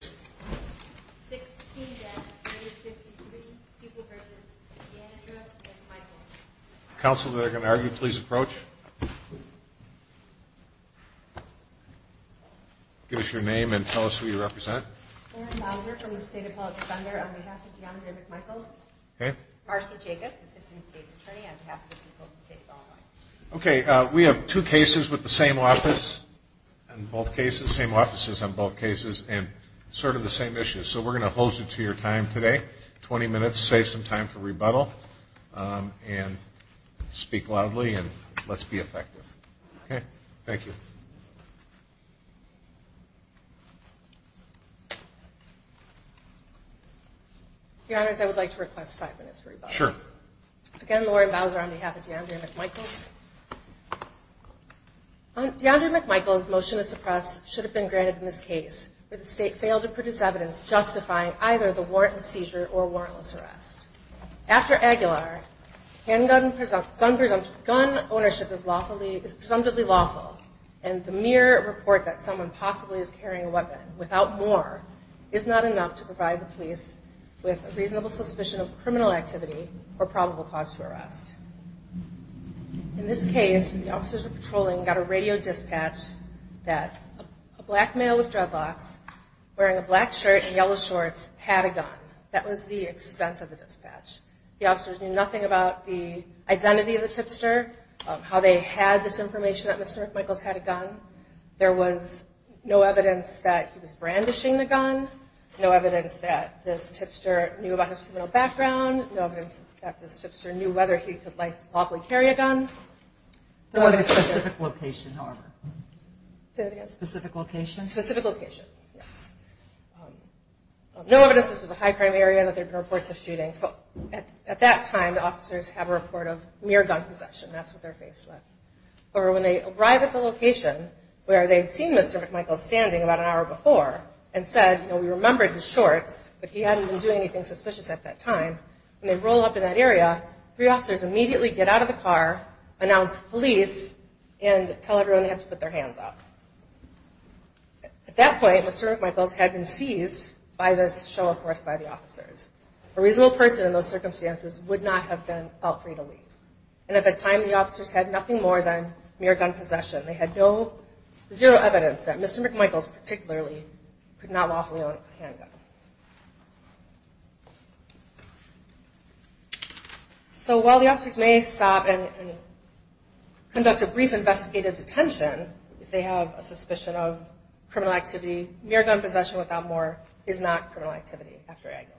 16-353 People v. DeAndre McMichaels Council that are going to argue please approach. Give us your name and tell us who you represent. Lauren Mouser from the State Appellate Defender on behalf of DeAndre McMichaels. Marcy Jacobs, Assistant State's Attorney on behalf of the People of the State of Illinois. Okay. We have two cases with the same office on both cases. Same offices on both cases and sort of the same issues. So we're going to hose it to your time today. Twenty minutes. Save some time for rebuttal. And speak loudly and let's be effective. Okay. Thank you. Your Honors, I would like to request five minutes for rebuttal. Sure. Again, Lauren Mouser on behalf of DeAndre McMichaels. DeAndre McMichaels' motion to suppress should have been granted in this case, but the State failed to produce evidence justifying either the warrant and seizure or warrantless arrest. After Aguilar, handgun ownership is presumptively lawful and the mere report that someone possibly is carrying a weapon without more is not enough to provide the police with a reasonable suspicion of criminal activity or probable cause for arrest. In this case, the officers were patrolling and got a radio dispatch that a black male with dreadlocks wearing a black shirt and yellow shorts had a gun. That was the extent of the dispatch. The officers knew nothing about the identity of the tipster, how they had this information that Mr. McMichaels had a gun. There was no evidence that he was brandishing the gun. No evidence that this tipster knew about his criminal background. No evidence that this tipster knew whether he could lawfully carry a gun. There was a specific location, however. Say that again. Specific location. Specific location, yes. No evidence that this was a high crime area, that there had been reports of shootings. At that time, the officers have a report of mere gun possession. That's what they're faced with. However, when they arrive at the location where they'd seen Mr. McMichaels standing about an hour before and said, you know, we remembered his shorts, but he hadn't been doing anything suspicious at that time, when they roll up in that area, three officers immediately get out of the car, announce police, and tell everyone they have to put their hands up. At that point, Mr. McMichaels had been seized by this show of force by the officers. A reasonable person in those circumstances would not have been felt free to leave. And at that time, the officers had nothing more than mere gun possession. They had zero evidence that Mr. McMichaels particularly could not lawfully own a handgun. So while the officers may stop and conduct a brief investigative detention if they have a suspicion of criminal activity, mere gun possession without more is not criminal activity after Aguilar.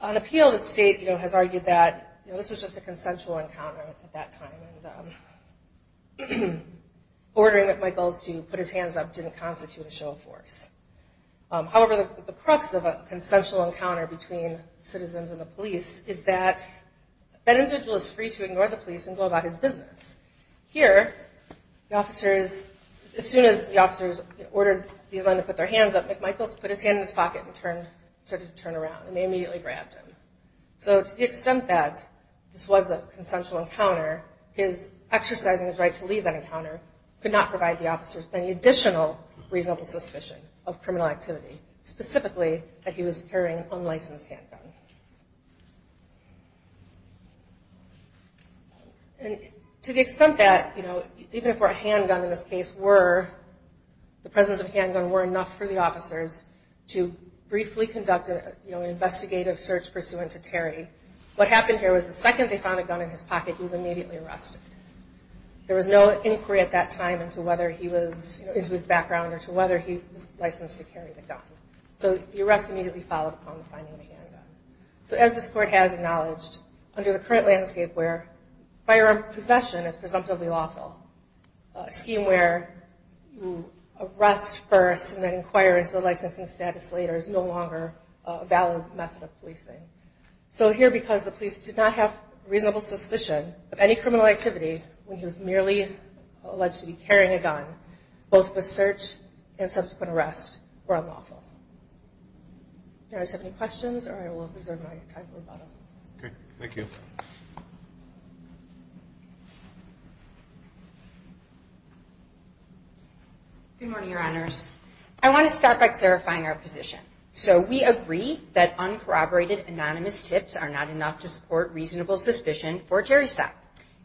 On appeal, the state has argued that this was just a consensual encounter at that time, and ordering McMichaels to put his hands up didn't constitute a show of force. However, the crux of a consensual encounter between citizens and the police is that that individual is free to ignore the police and go about his business. Here, the officers, as soon as the officers ordered these men to put their hands up, McMichaels put his hand in his pocket and started to turn around, and they immediately grabbed him. So to the extent that this was a consensual encounter, his exercising his right to leave that encounter could not provide the officers with any additional reasonable suspicion of criminal activity, specifically that he was carrying an unlicensed handgun. And to the extent that, you know, even if a handgun in this case were, the presence of a handgun were enough for the officers to briefly conduct an investigative search pursuant to Terry, what happened here was the second they found a gun in his pocket, he was immediately arrested. There was no inquiry at that time into whether he was, you know, into his background or to whether he was licensed to carry the gun. So the arrest immediately followed upon the finding of the handgun. So as this Court has acknowledged, under the current landscape where firearm possession is presumptively lawful, a scheme where you arrest first and then inquire into the licensing status later is no longer a valid method of policing. So here, because the police did not have reasonable suspicion of any criminal activity when he was merely alleged to be carrying a gun, both the search and subsequent arrest were unlawful. Do you guys have any questions, or I will reserve my time for the bottom. Okay. Thank you. Good morning, Your Honors. I want to start by clarifying our position. So we agree that uncorroborated anonymous tips are not enough to support reasonable suspicion for a Terry stop.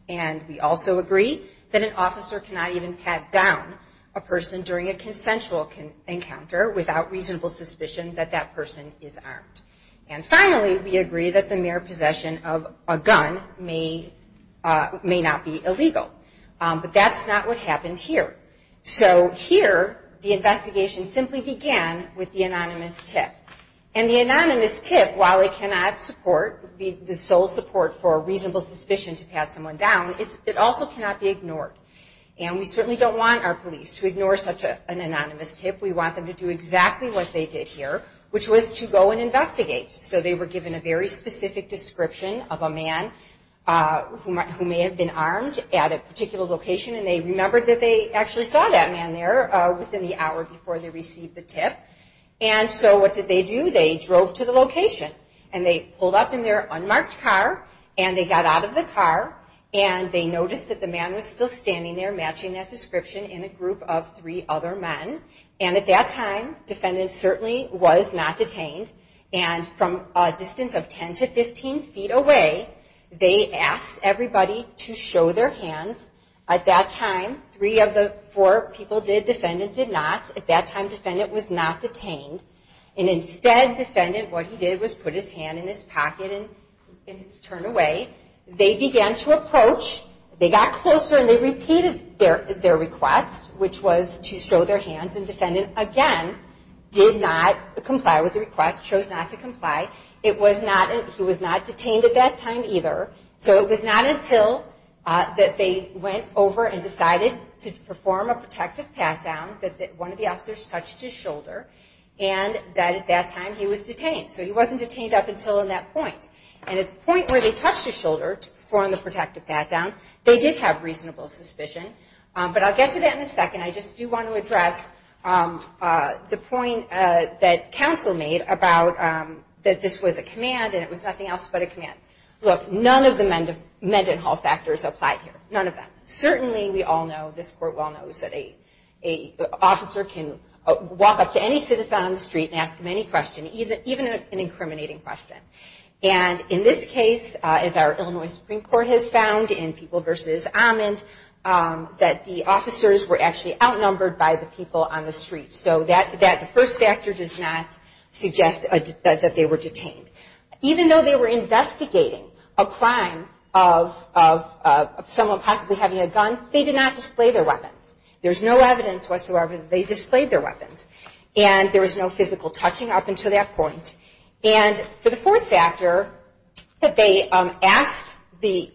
And we also agree that an officer cannot even pat down a person during a consensual encounter without reasonable suspicion that that person is armed. And finally, we agree that the mere possession of a gun may not be illegal. But that's not what happened here. So here, the investigation simply began with the anonymous tip. And the anonymous tip, while it cannot support, be the sole support for reasonable suspicion to pat someone down, it also cannot be ignored. And we certainly don't want our police to ignore such an anonymous tip. We want them to do exactly what they did here, which was to go and investigate. So they were given a very specific description of a man who may have been armed at a particular location, and they remembered that they actually saw that man there within the hour before they received the tip. And so what did they do? They drove to the location, and they pulled up in their unmarked car, and they got out of the car, and they noticed that the man was still standing there matching that description in a group of three other men. And at that time, defendant certainly was not detained. And from a distance of 10 to 15 feet away, they asked everybody to show their hands. At that time, three of the four people did. Defendant did not. At that time, defendant was not detained. And instead, defendant, what he did was put his hand in his pocket and turn away. They began to approach. They got closer, and they repeated their request, which was to show their hands. And defendant, again, did not comply with the request, chose not to comply. He was not detained at that time either. So it was not until that they went over and decided to perform a protective pat-down that one of the officers touched his shoulder, and that at that time he was detained. So he wasn't detained up until that point. And at the point where they touched his shoulder to perform the protective pat-down, they did have reasonable suspicion. But I'll get to that in a second. And I just do want to address the point that counsel made about that this was a command and it was nothing else but a command. Look, none of the Mendenhall factors applied here. None of them. Certainly we all know, this court well knows, that an officer can walk up to any citizen on the street and ask them any question, even an incriminating question. And in this case, as our Illinois Supreme Court has found in People v. Amond, that the officers were actually outnumbered by the people on the street. So that first factor does not suggest that they were detained. Even though they were investigating a crime of someone possibly having a gun, they did not display their weapons. There's no evidence whatsoever that they displayed their weapons. And there was no physical touching up until that point. And for the fourth factor, that they asked the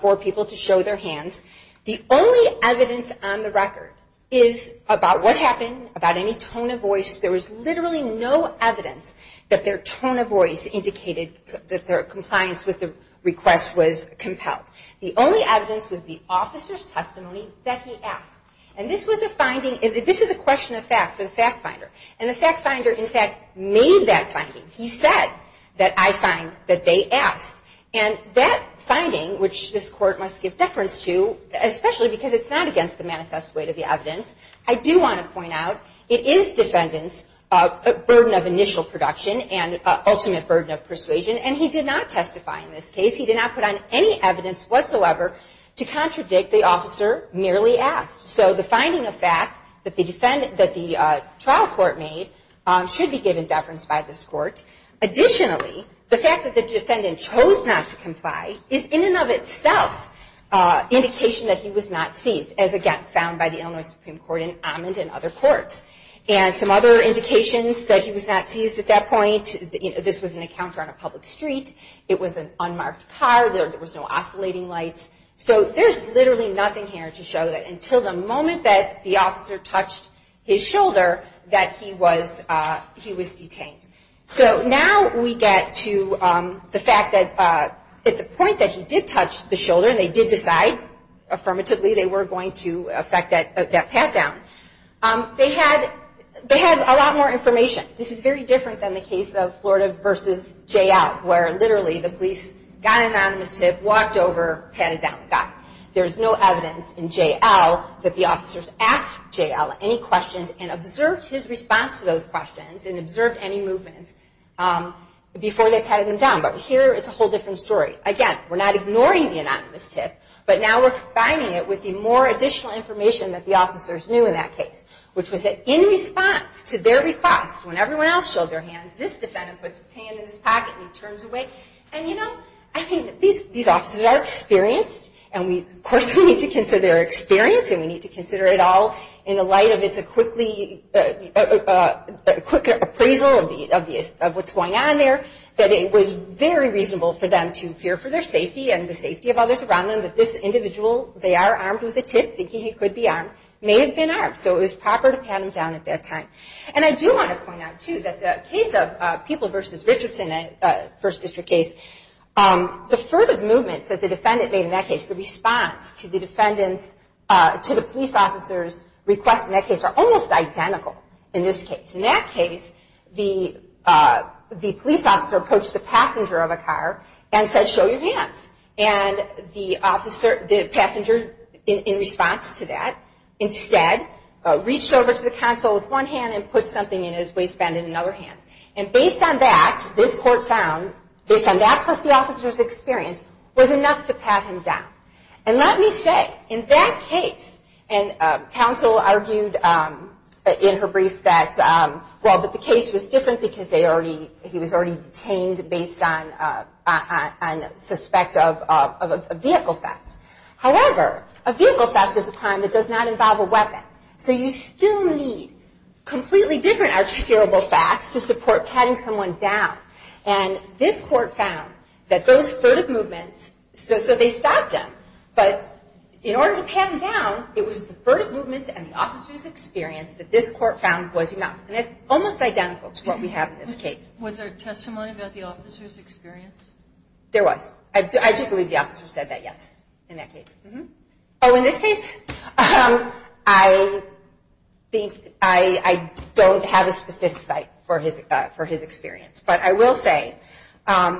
four people to show their hands, the only evidence on the record is about what happened, about any tone of voice. There was literally no evidence that their tone of voice indicated that their compliance with the request was compelled. The only evidence was the officer's testimony that he asked. And this is a question of fact for the fact finder. And the fact finder, in fact, made that finding. He said that I find that they asked. And that finding, which this Court must give deference to, especially because it's not against the manifest weight of the evidence, I do want to point out it is defendants' burden of initial production and ultimate burden of persuasion. And he did not testify in this case. He did not put on any evidence whatsoever to contradict the officer merely asked. So the finding of fact that the trial court made should be given deference by this Court. Additionally, the fact that the defendant chose not to comply is in and of itself an indication that he was not seized, as again found by the Illinois Supreme Court and Amand and other courts. And some other indications that he was not seized at that point, this was an encounter on a public street. It was an unmarked car. There was no oscillating lights. So there's literally nothing here to show that until the moment that the officer touched his shoulder that he was detained. So now we get to the fact that at the point that he did touch the shoulder, and they did decide affirmatively they were going to affect that pat down, they had a lot more information. This is very different than the case of Florida v. J.L., where literally the police got an anonymous tip, walked over, patted down the guy. There's no evidence in J.L. that the officers asked J.L. any questions and observed his response to those questions and observed any movements before they patted him down. But here it's a whole different story. Again, we're not ignoring the anonymous tip, but now we're combining it with the more additional information that the officers knew in that case, which was that in response to their request, when everyone else showed their hands, this defendant puts his hand in his pocket and he turns away. And, you know, I think that these officers are experienced, and of course we need to consider their experience, and we need to consider it all in the light of it's a quick appraisal of what's going on there, that it was very reasonable for them to fear for their safety and the safety of others around them, that this individual, they are armed with a tip, thinking he could be armed, may have been armed. So it was proper to pat him down at that time. And I do want to point out, too, that the case of People v. Richardson, a First District case, the further movements that the defendant made in that case, the response to the defendant's, to the police officer's request in that case, are almost identical in this case. In that case, the police officer approached the passenger of a car and said, show your hands, and the passenger, in response to that, instead reached over to the counsel with one hand and put something in his waistband in another hand. And based on that, this court found, based on that plus the officer's experience, was enough to pat him down. And let me say, in that case, and counsel argued in her brief that, well, but the case was different because he was already detained based on suspect of a vehicle theft. However, a vehicle theft is a crime that does not involve a weapon. So you still need completely different articulable facts to support patting someone down. And this court found that those furtive movements, so they stopped them, but in order to pat him down, it was the furtive movements and the officer's experience that this court found was enough. And it's almost identical to what we have in this case. Was there testimony about the officer's experience? There was. I do believe the officer said that, yes, in that case. Oh, in this case, I think I don't have a specific site for his experience. But I will say,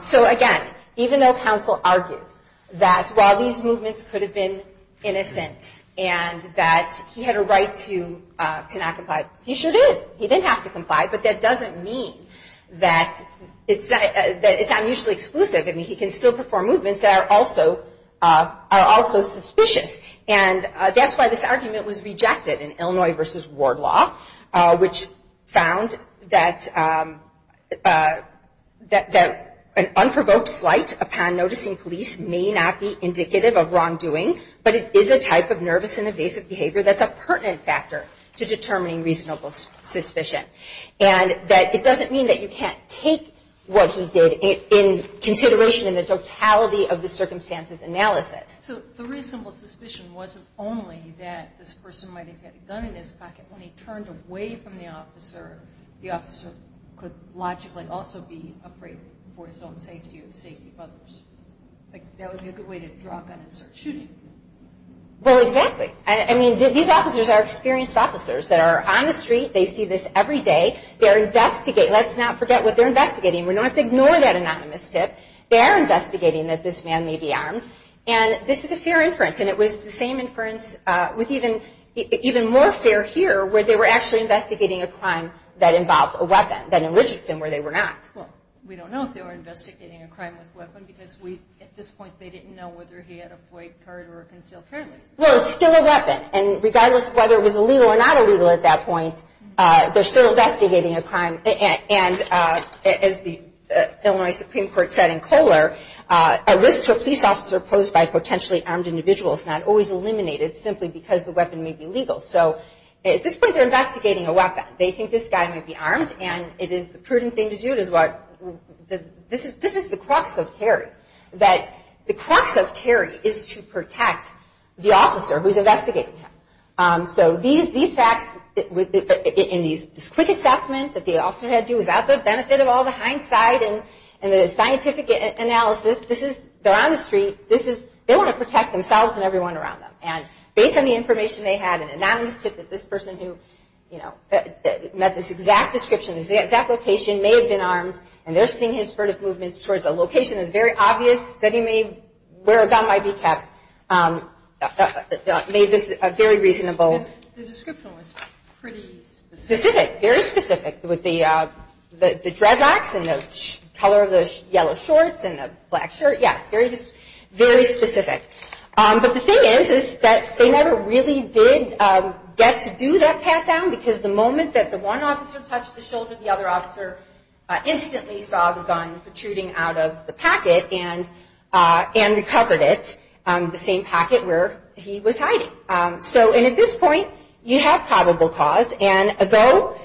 so again, even though counsel argues that while these movements could have been innocent and that he had a right to not comply, he sure did. He did have to comply, but that doesn't mean that it's not mutually exclusive. I mean, he can still perform movements that are also suspicious. And that's why this argument was rejected in Illinois v. Ward Law, which found that an unprovoked flight upon noticing police may not be indicative of wrongdoing, but it is a type of nervous and evasive behavior that's a pertinent factor to determining reasonable suspicion. And that it doesn't mean that you can't take what he did in consideration in the totality of the circumstances analysis. So the reasonable suspicion wasn't only that this person might have had a gun in his pocket. When he turned away from the officer, the officer could logically also be afraid for his own safety and the safety of others. Like, that would be a good way to draw a gun and start shooting. Well, exactly. I mean, these officers are experienced officers that are on the street. They see this every day. They're investigating. Let's not forget what they're investigating. We don't have to ignore that anonymous tip. They're investigating that this man may be armed. And this is a fair inference, and it was the same inference with even more fair here where they were actually investigating a crime that involved a weapon than in Richardson where they were not. Well, we don't know if they were investigating a crime with a weapon, because at this point they didn't know whether he had a white card or a concealed carry license. Well, it's still a weapon. And regardless of whether it was illegal or not illegal at that point, they're still investigating a crime. And as the Illinois Supreme Court said in Kohler, a risk to a police officer posed by potentially armed individuals is not always eliminated simply because the weapon may be legal. So at this point, they're investigating a weapon. They think this guy may be armed, and it is the prudent thing to do. This is the crux of Terry, that the crux of Terry is to protect the officer who's investigating him. So these facts in this quick assessment that the officer had to do without the benefit of all the hindsight and the scientific analysis, they're on the street. They want to protect themselves and everyone around them. And based on the information they had, an anonymous tip that this person who met this exact description, this exact location, may have been armed, and they're seeing his furtive movements towards a location that's very obvious that he may wear a gun, might be kept, made this a very reasonable. And the description was pretty specific. Specific, very specific, with the dreadlocks and the color of the yellow shorts and the black shirt. Yes, very specific. But the thing is, is that they never really did get to do that pat-down, because the moment that the one officer touched the shoulder, the other officer instantly saw the gun protruding out of the packet and recovered it, the same packet where he was hiding. So, and at this point, you have probable cause, and though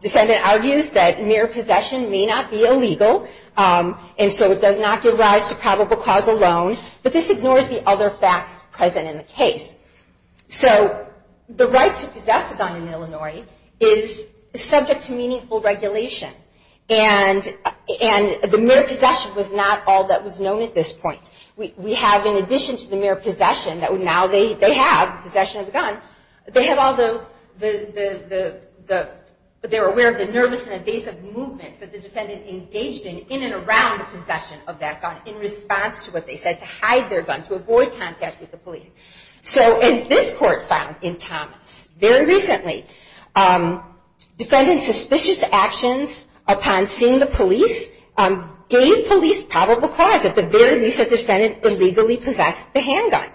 defendant argues that mere possession may not be illegal, and so it does not give rise to probable cause alone, but this ignores the other facts present in the case. So, the right to possess a gun in Illinois is subject to meaningful regulation. And the mere possession was not all that was known at this point. We have, in addition to the mere possession that now they have, possession of the gun, they have all the, they're aware of the nervous and evasive movements that the defendant engaged in in and around the possession of that gun in response to what they said, to hide their gun, to avoid contact with the police. So, as this court found in Thomas very recently, defendant's suspicious actions upon seeing the police gave police probable cause, at the very least, that the defendant illegally possessed the handgun.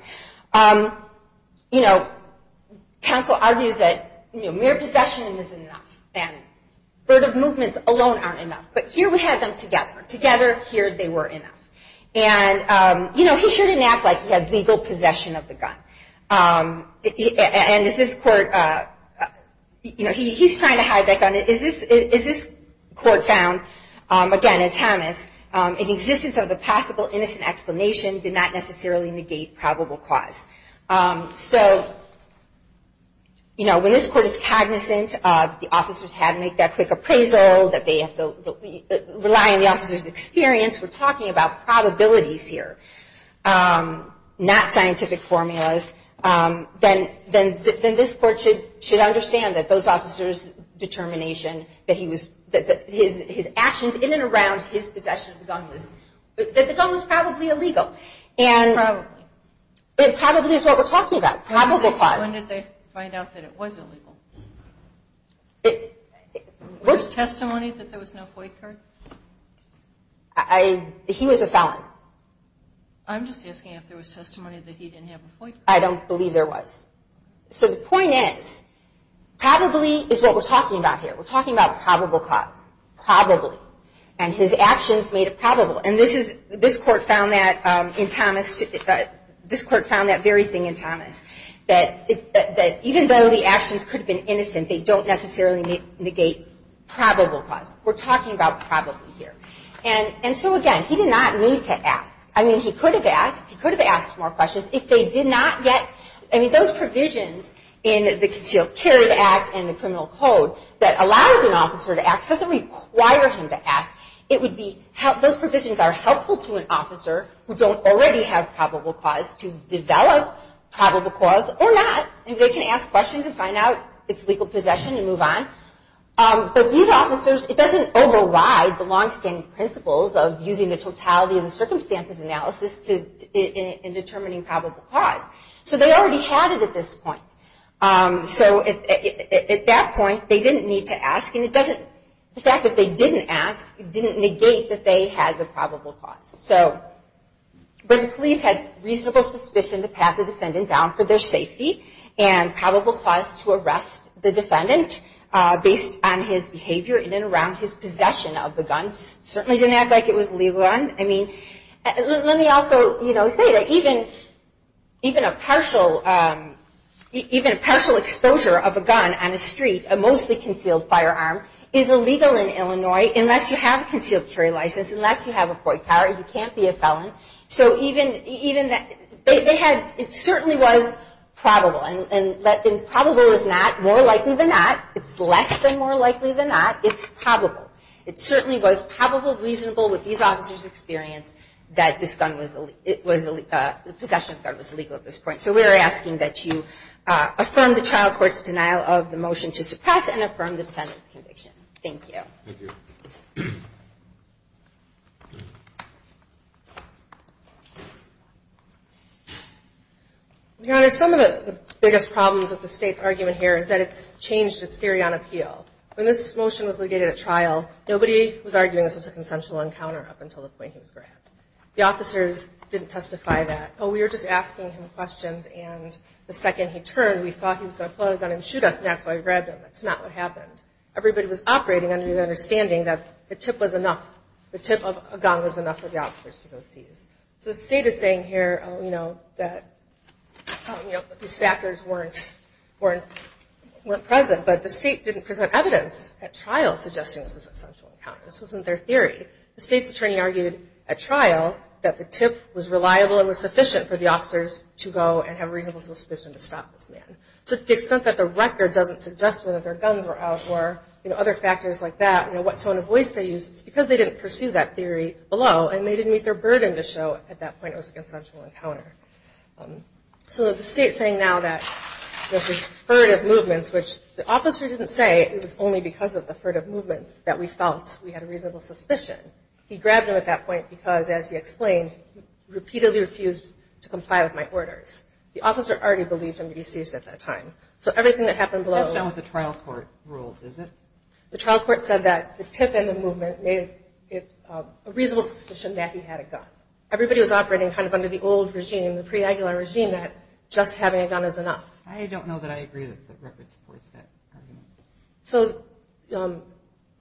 You know, counsel argues that mere possession isn't enough, and verve movements alone aren't enough. But here we have them together. Together, here they were enough. And, you know, he sure didn't act like he had legal possession of the gun. And is this court, you know, he's trying to hide that gun. Is this court found, again, in Thomas, in the existence of the possible innocent explanation did not necessarily negate probable cause. So, you know, when this court is cognizant of the officers had to make that quick appraisal, that they have to rely on the officers' experience, we're talking about probabilities here, not scientific formulas, then this court should understand that those officers' determination, that his actions in and around his possession of the gun, that the gun was probably illegal. Probably. It probably is what we're talking about, probable cause. When did they find out that it was illegal? Was there testimony that there was no FOI card? He was a felon. I'm just asking if there was testimony that he didn't have a FOI card. I don't believe there was. So the point is, probably is what we're talking about here. We're talking about probable cause. Probably. And his actions made it probable. And this court found that in Thomas, this court found that very thing in Thomas, that even though the actions could have been innocent, they don't necessarily negate probable cause. We're talking about probably here. And so, again, he did not need to ask. I mean, he could have asked. He could have asked more questions if they did not get, I mean, those provisions in the concealed carry act and the criminal code that allows an officer to ask doesn't require him to ask. It would be, those provisions are helpful to an officer who don't already have probable cause to develop probable cause or not. And they can ask questions and find out it's legal possession and move on. But these officers, it doesn't override the longstanding principles of using the totality of the circumstances analysis in determining probable cause. So they already had it at this point. So at that point, they didn't need to ask. And it doesn't, the fact that they didn't ask didn't negate that they had the probable cause. So, but the police had reasonable suspicion to pat the defendant down for their safety and probable cause to arrest the defendant based on his behavior in and around his possession of the gun. Certainly didn't act like it was a legal gun. I mean, let me also, you know, say that even a partial exposure of a gun on a street, a mostly concealed firearm, is illegal in Illinois unless you have a concealed carry license, unless you have a FOIC card, you can't be a felon. So even, they had, it certainly was probable. And probable is not more likely than not. It's less than more likely than not. It's probable. It certainly was probable, reasonable with these officers' experience that this gun was, the possession of the gun was illegal at this point. So we're asking that you affirm the trial court's denial of the motion to suppress and affirm the defendant's conviction. Thank you. Thank you. Your Honor, some of the biggest problems with the State's argument here is that it's changed its theory on appeal. When this motion was legated at trial, nobody was arguing this was a consensual encounter up until the point he was grabbed. The officers didn't testify that. Oh, we were just asking him questions, and the second he turned, we thought he was going to pull out a gun and shoot us, and that's why we grabbed him. That's not what happened. Everybody was operating under the understanding that the tip was enough, the tip of a gun was enough for the officers to go seize. So the State is saying here, you know, that these factors weren't present, but the State didn't present evidence at trial suggesting this was a consensual encounter. This wasn't their theory. The State's attorney argued at trial that the tip was reliable and was sufficient for the officers to go and have a reasonable suspicion to stop this man. To the extent that the record doesn't suggest whether their guns were out or, you know, other factors like that, you know, what tone of voice they used, it's because they didn't pursue that theory below, and they didn't meet their burden to show at that point it was a consensual encounter. So the State's saying now that this furtive movements, which the officer didn't say, it was only because of the furtive movements that we felt we had a reasonable suspicion. He grabbed him at that point because, as he explained, he repeatedly refused to comply with my orders. The officer already believed him to be seized at that time. So everything that happened below – That's not what the trial court ruled, is it? The trial court said that the tip and the movement made it a reasonable suspicion that he had a gun. Everybody was operating kind of under the old regime, the pre-Aguilar regime, that just having a gun is enough. I don't know that I agree that the record supports that argument. So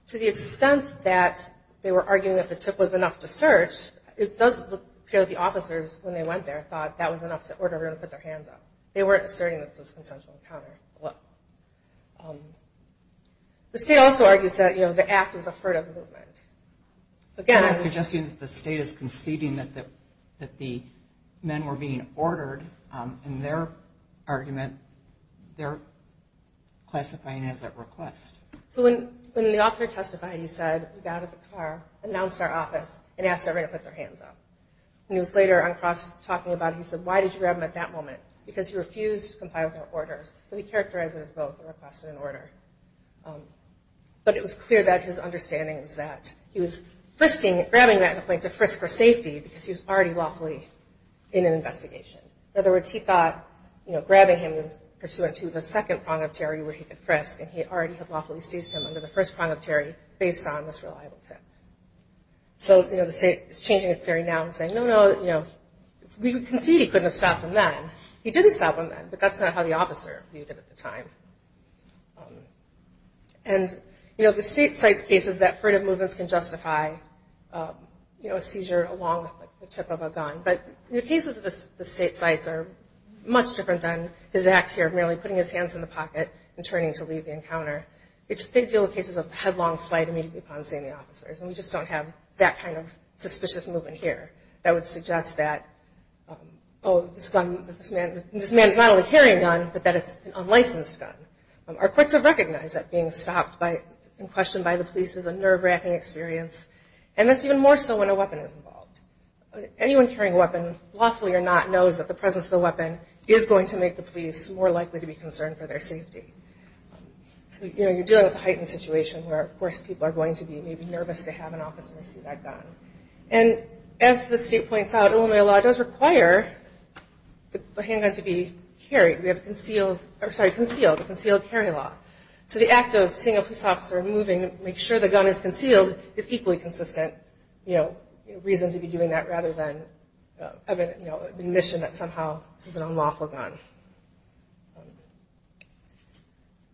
to the extent that they were arguing that the tip was enough to search, it does appear that the officers, when they went there, thought that was enough to order everyone to put their hands up. They weren't asserting that this was a consensual encounter below. The State also argues that, you know, the act is a furtive movement. Again, I would suggest to you that the State is conceding that the men were being ordered, and their argument, they're classifying it as a request. So when the officer testified, he said, we got out of the car, announced our office, and asked everyone to put their hands up. He was later on cross-talking about it. He said, why did you grab him at that moment? Because he refused to comply with our orders. So he characterized it as both a request and an order. But it was clear that his understanding was that he was frisking – grabbing that point to frisk for safety because he was already lawfully in an investigation. In other words, he thought, you know, grabbing him was pursuant to the second prong of terror where he could frisk, and he already had lawfully seized him under the first prong of terror based on this reliable tip. So, you know, the State is changing its theory now and saying, no, no, you know, we concede he couldn't have stopped them then. He did stop them then, but that's not how the officer viewed it at the time. And, you know, the State cites cases that furtive movements can justify, you know, a seizure along with the tip of a gun. But the cases that the State cites are much different than his act here of merely putting his hands in the pocket and turning to leave the encounter. It's a big deal in cases of headlong flight immediately upon seeing the officers, and we just don't have that kind of suspicious movement here that would suggest that, oh, this man is not only carrying a gun, but that it's an unlicensed gun. Our courts have recognized that being stopped and questioned by the police is a nerve-wracking experience, and that's even more so when a weapon is involved. Anyone carrying a weapon, lawfully or not, knows that the presence of the weapon is going to make the police more likely to be concerned for their safety. So, you know, you're dealing with a heightened situation where, of course, people are going to be maybe nervous to have an officer receive that gun. And as the State points out, Illinois law does require the handgun to be carried. We have concealed carry law. So the act of seeing a police officer moving to make sure the gun is concealed is equally consistent, you know, a reason to be doing that rather than an admission that somehow this is an unlawful gun.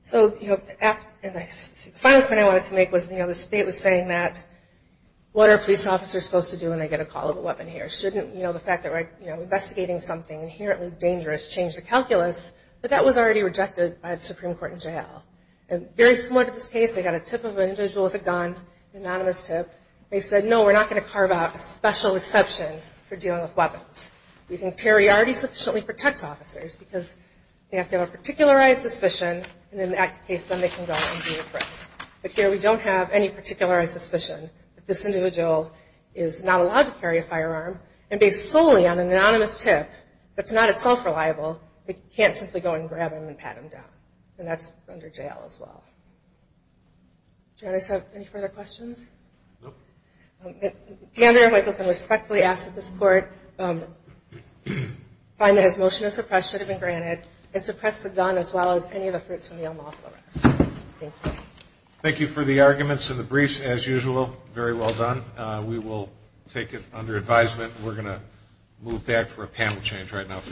So, you know, the final point I wanted to make was, you know, the State was saying that, what are police officers supposed to do when they get a call of a weapon here? Shouldn't, you know, the fact that we're investigating something inherently dangerous change the calculus? But that was already rejected by the Supreme Court in jail. And very similar to this case, they got a tip of an individual with a gun, an anonymous tip. They said, no, we're not going to carve out a special exception for dealing with weapons. We think carry already sufficiently protects officers because they have to have a particularized suspicion, and in that case, then they can go and do it for us. But here we don't have any particularized suspicion that this individual is not allowed to carry a firearm. And based solely on an anonymous tip that's not itself reliable, they can't simply go and grab him and pat him down. And that's under jail as well. Do you guys have any further questions? Nope. Commander Michelson respectfully asks that this court find that his motion to suppress should have been granted and suppress the gun as well as any of the fruits from the unlawful arrest. Thank you. Thank you for the arguments and the briefs, as usual. Very well done. We will take it under advisement. We're going to move back for a panel change right now for the next panel.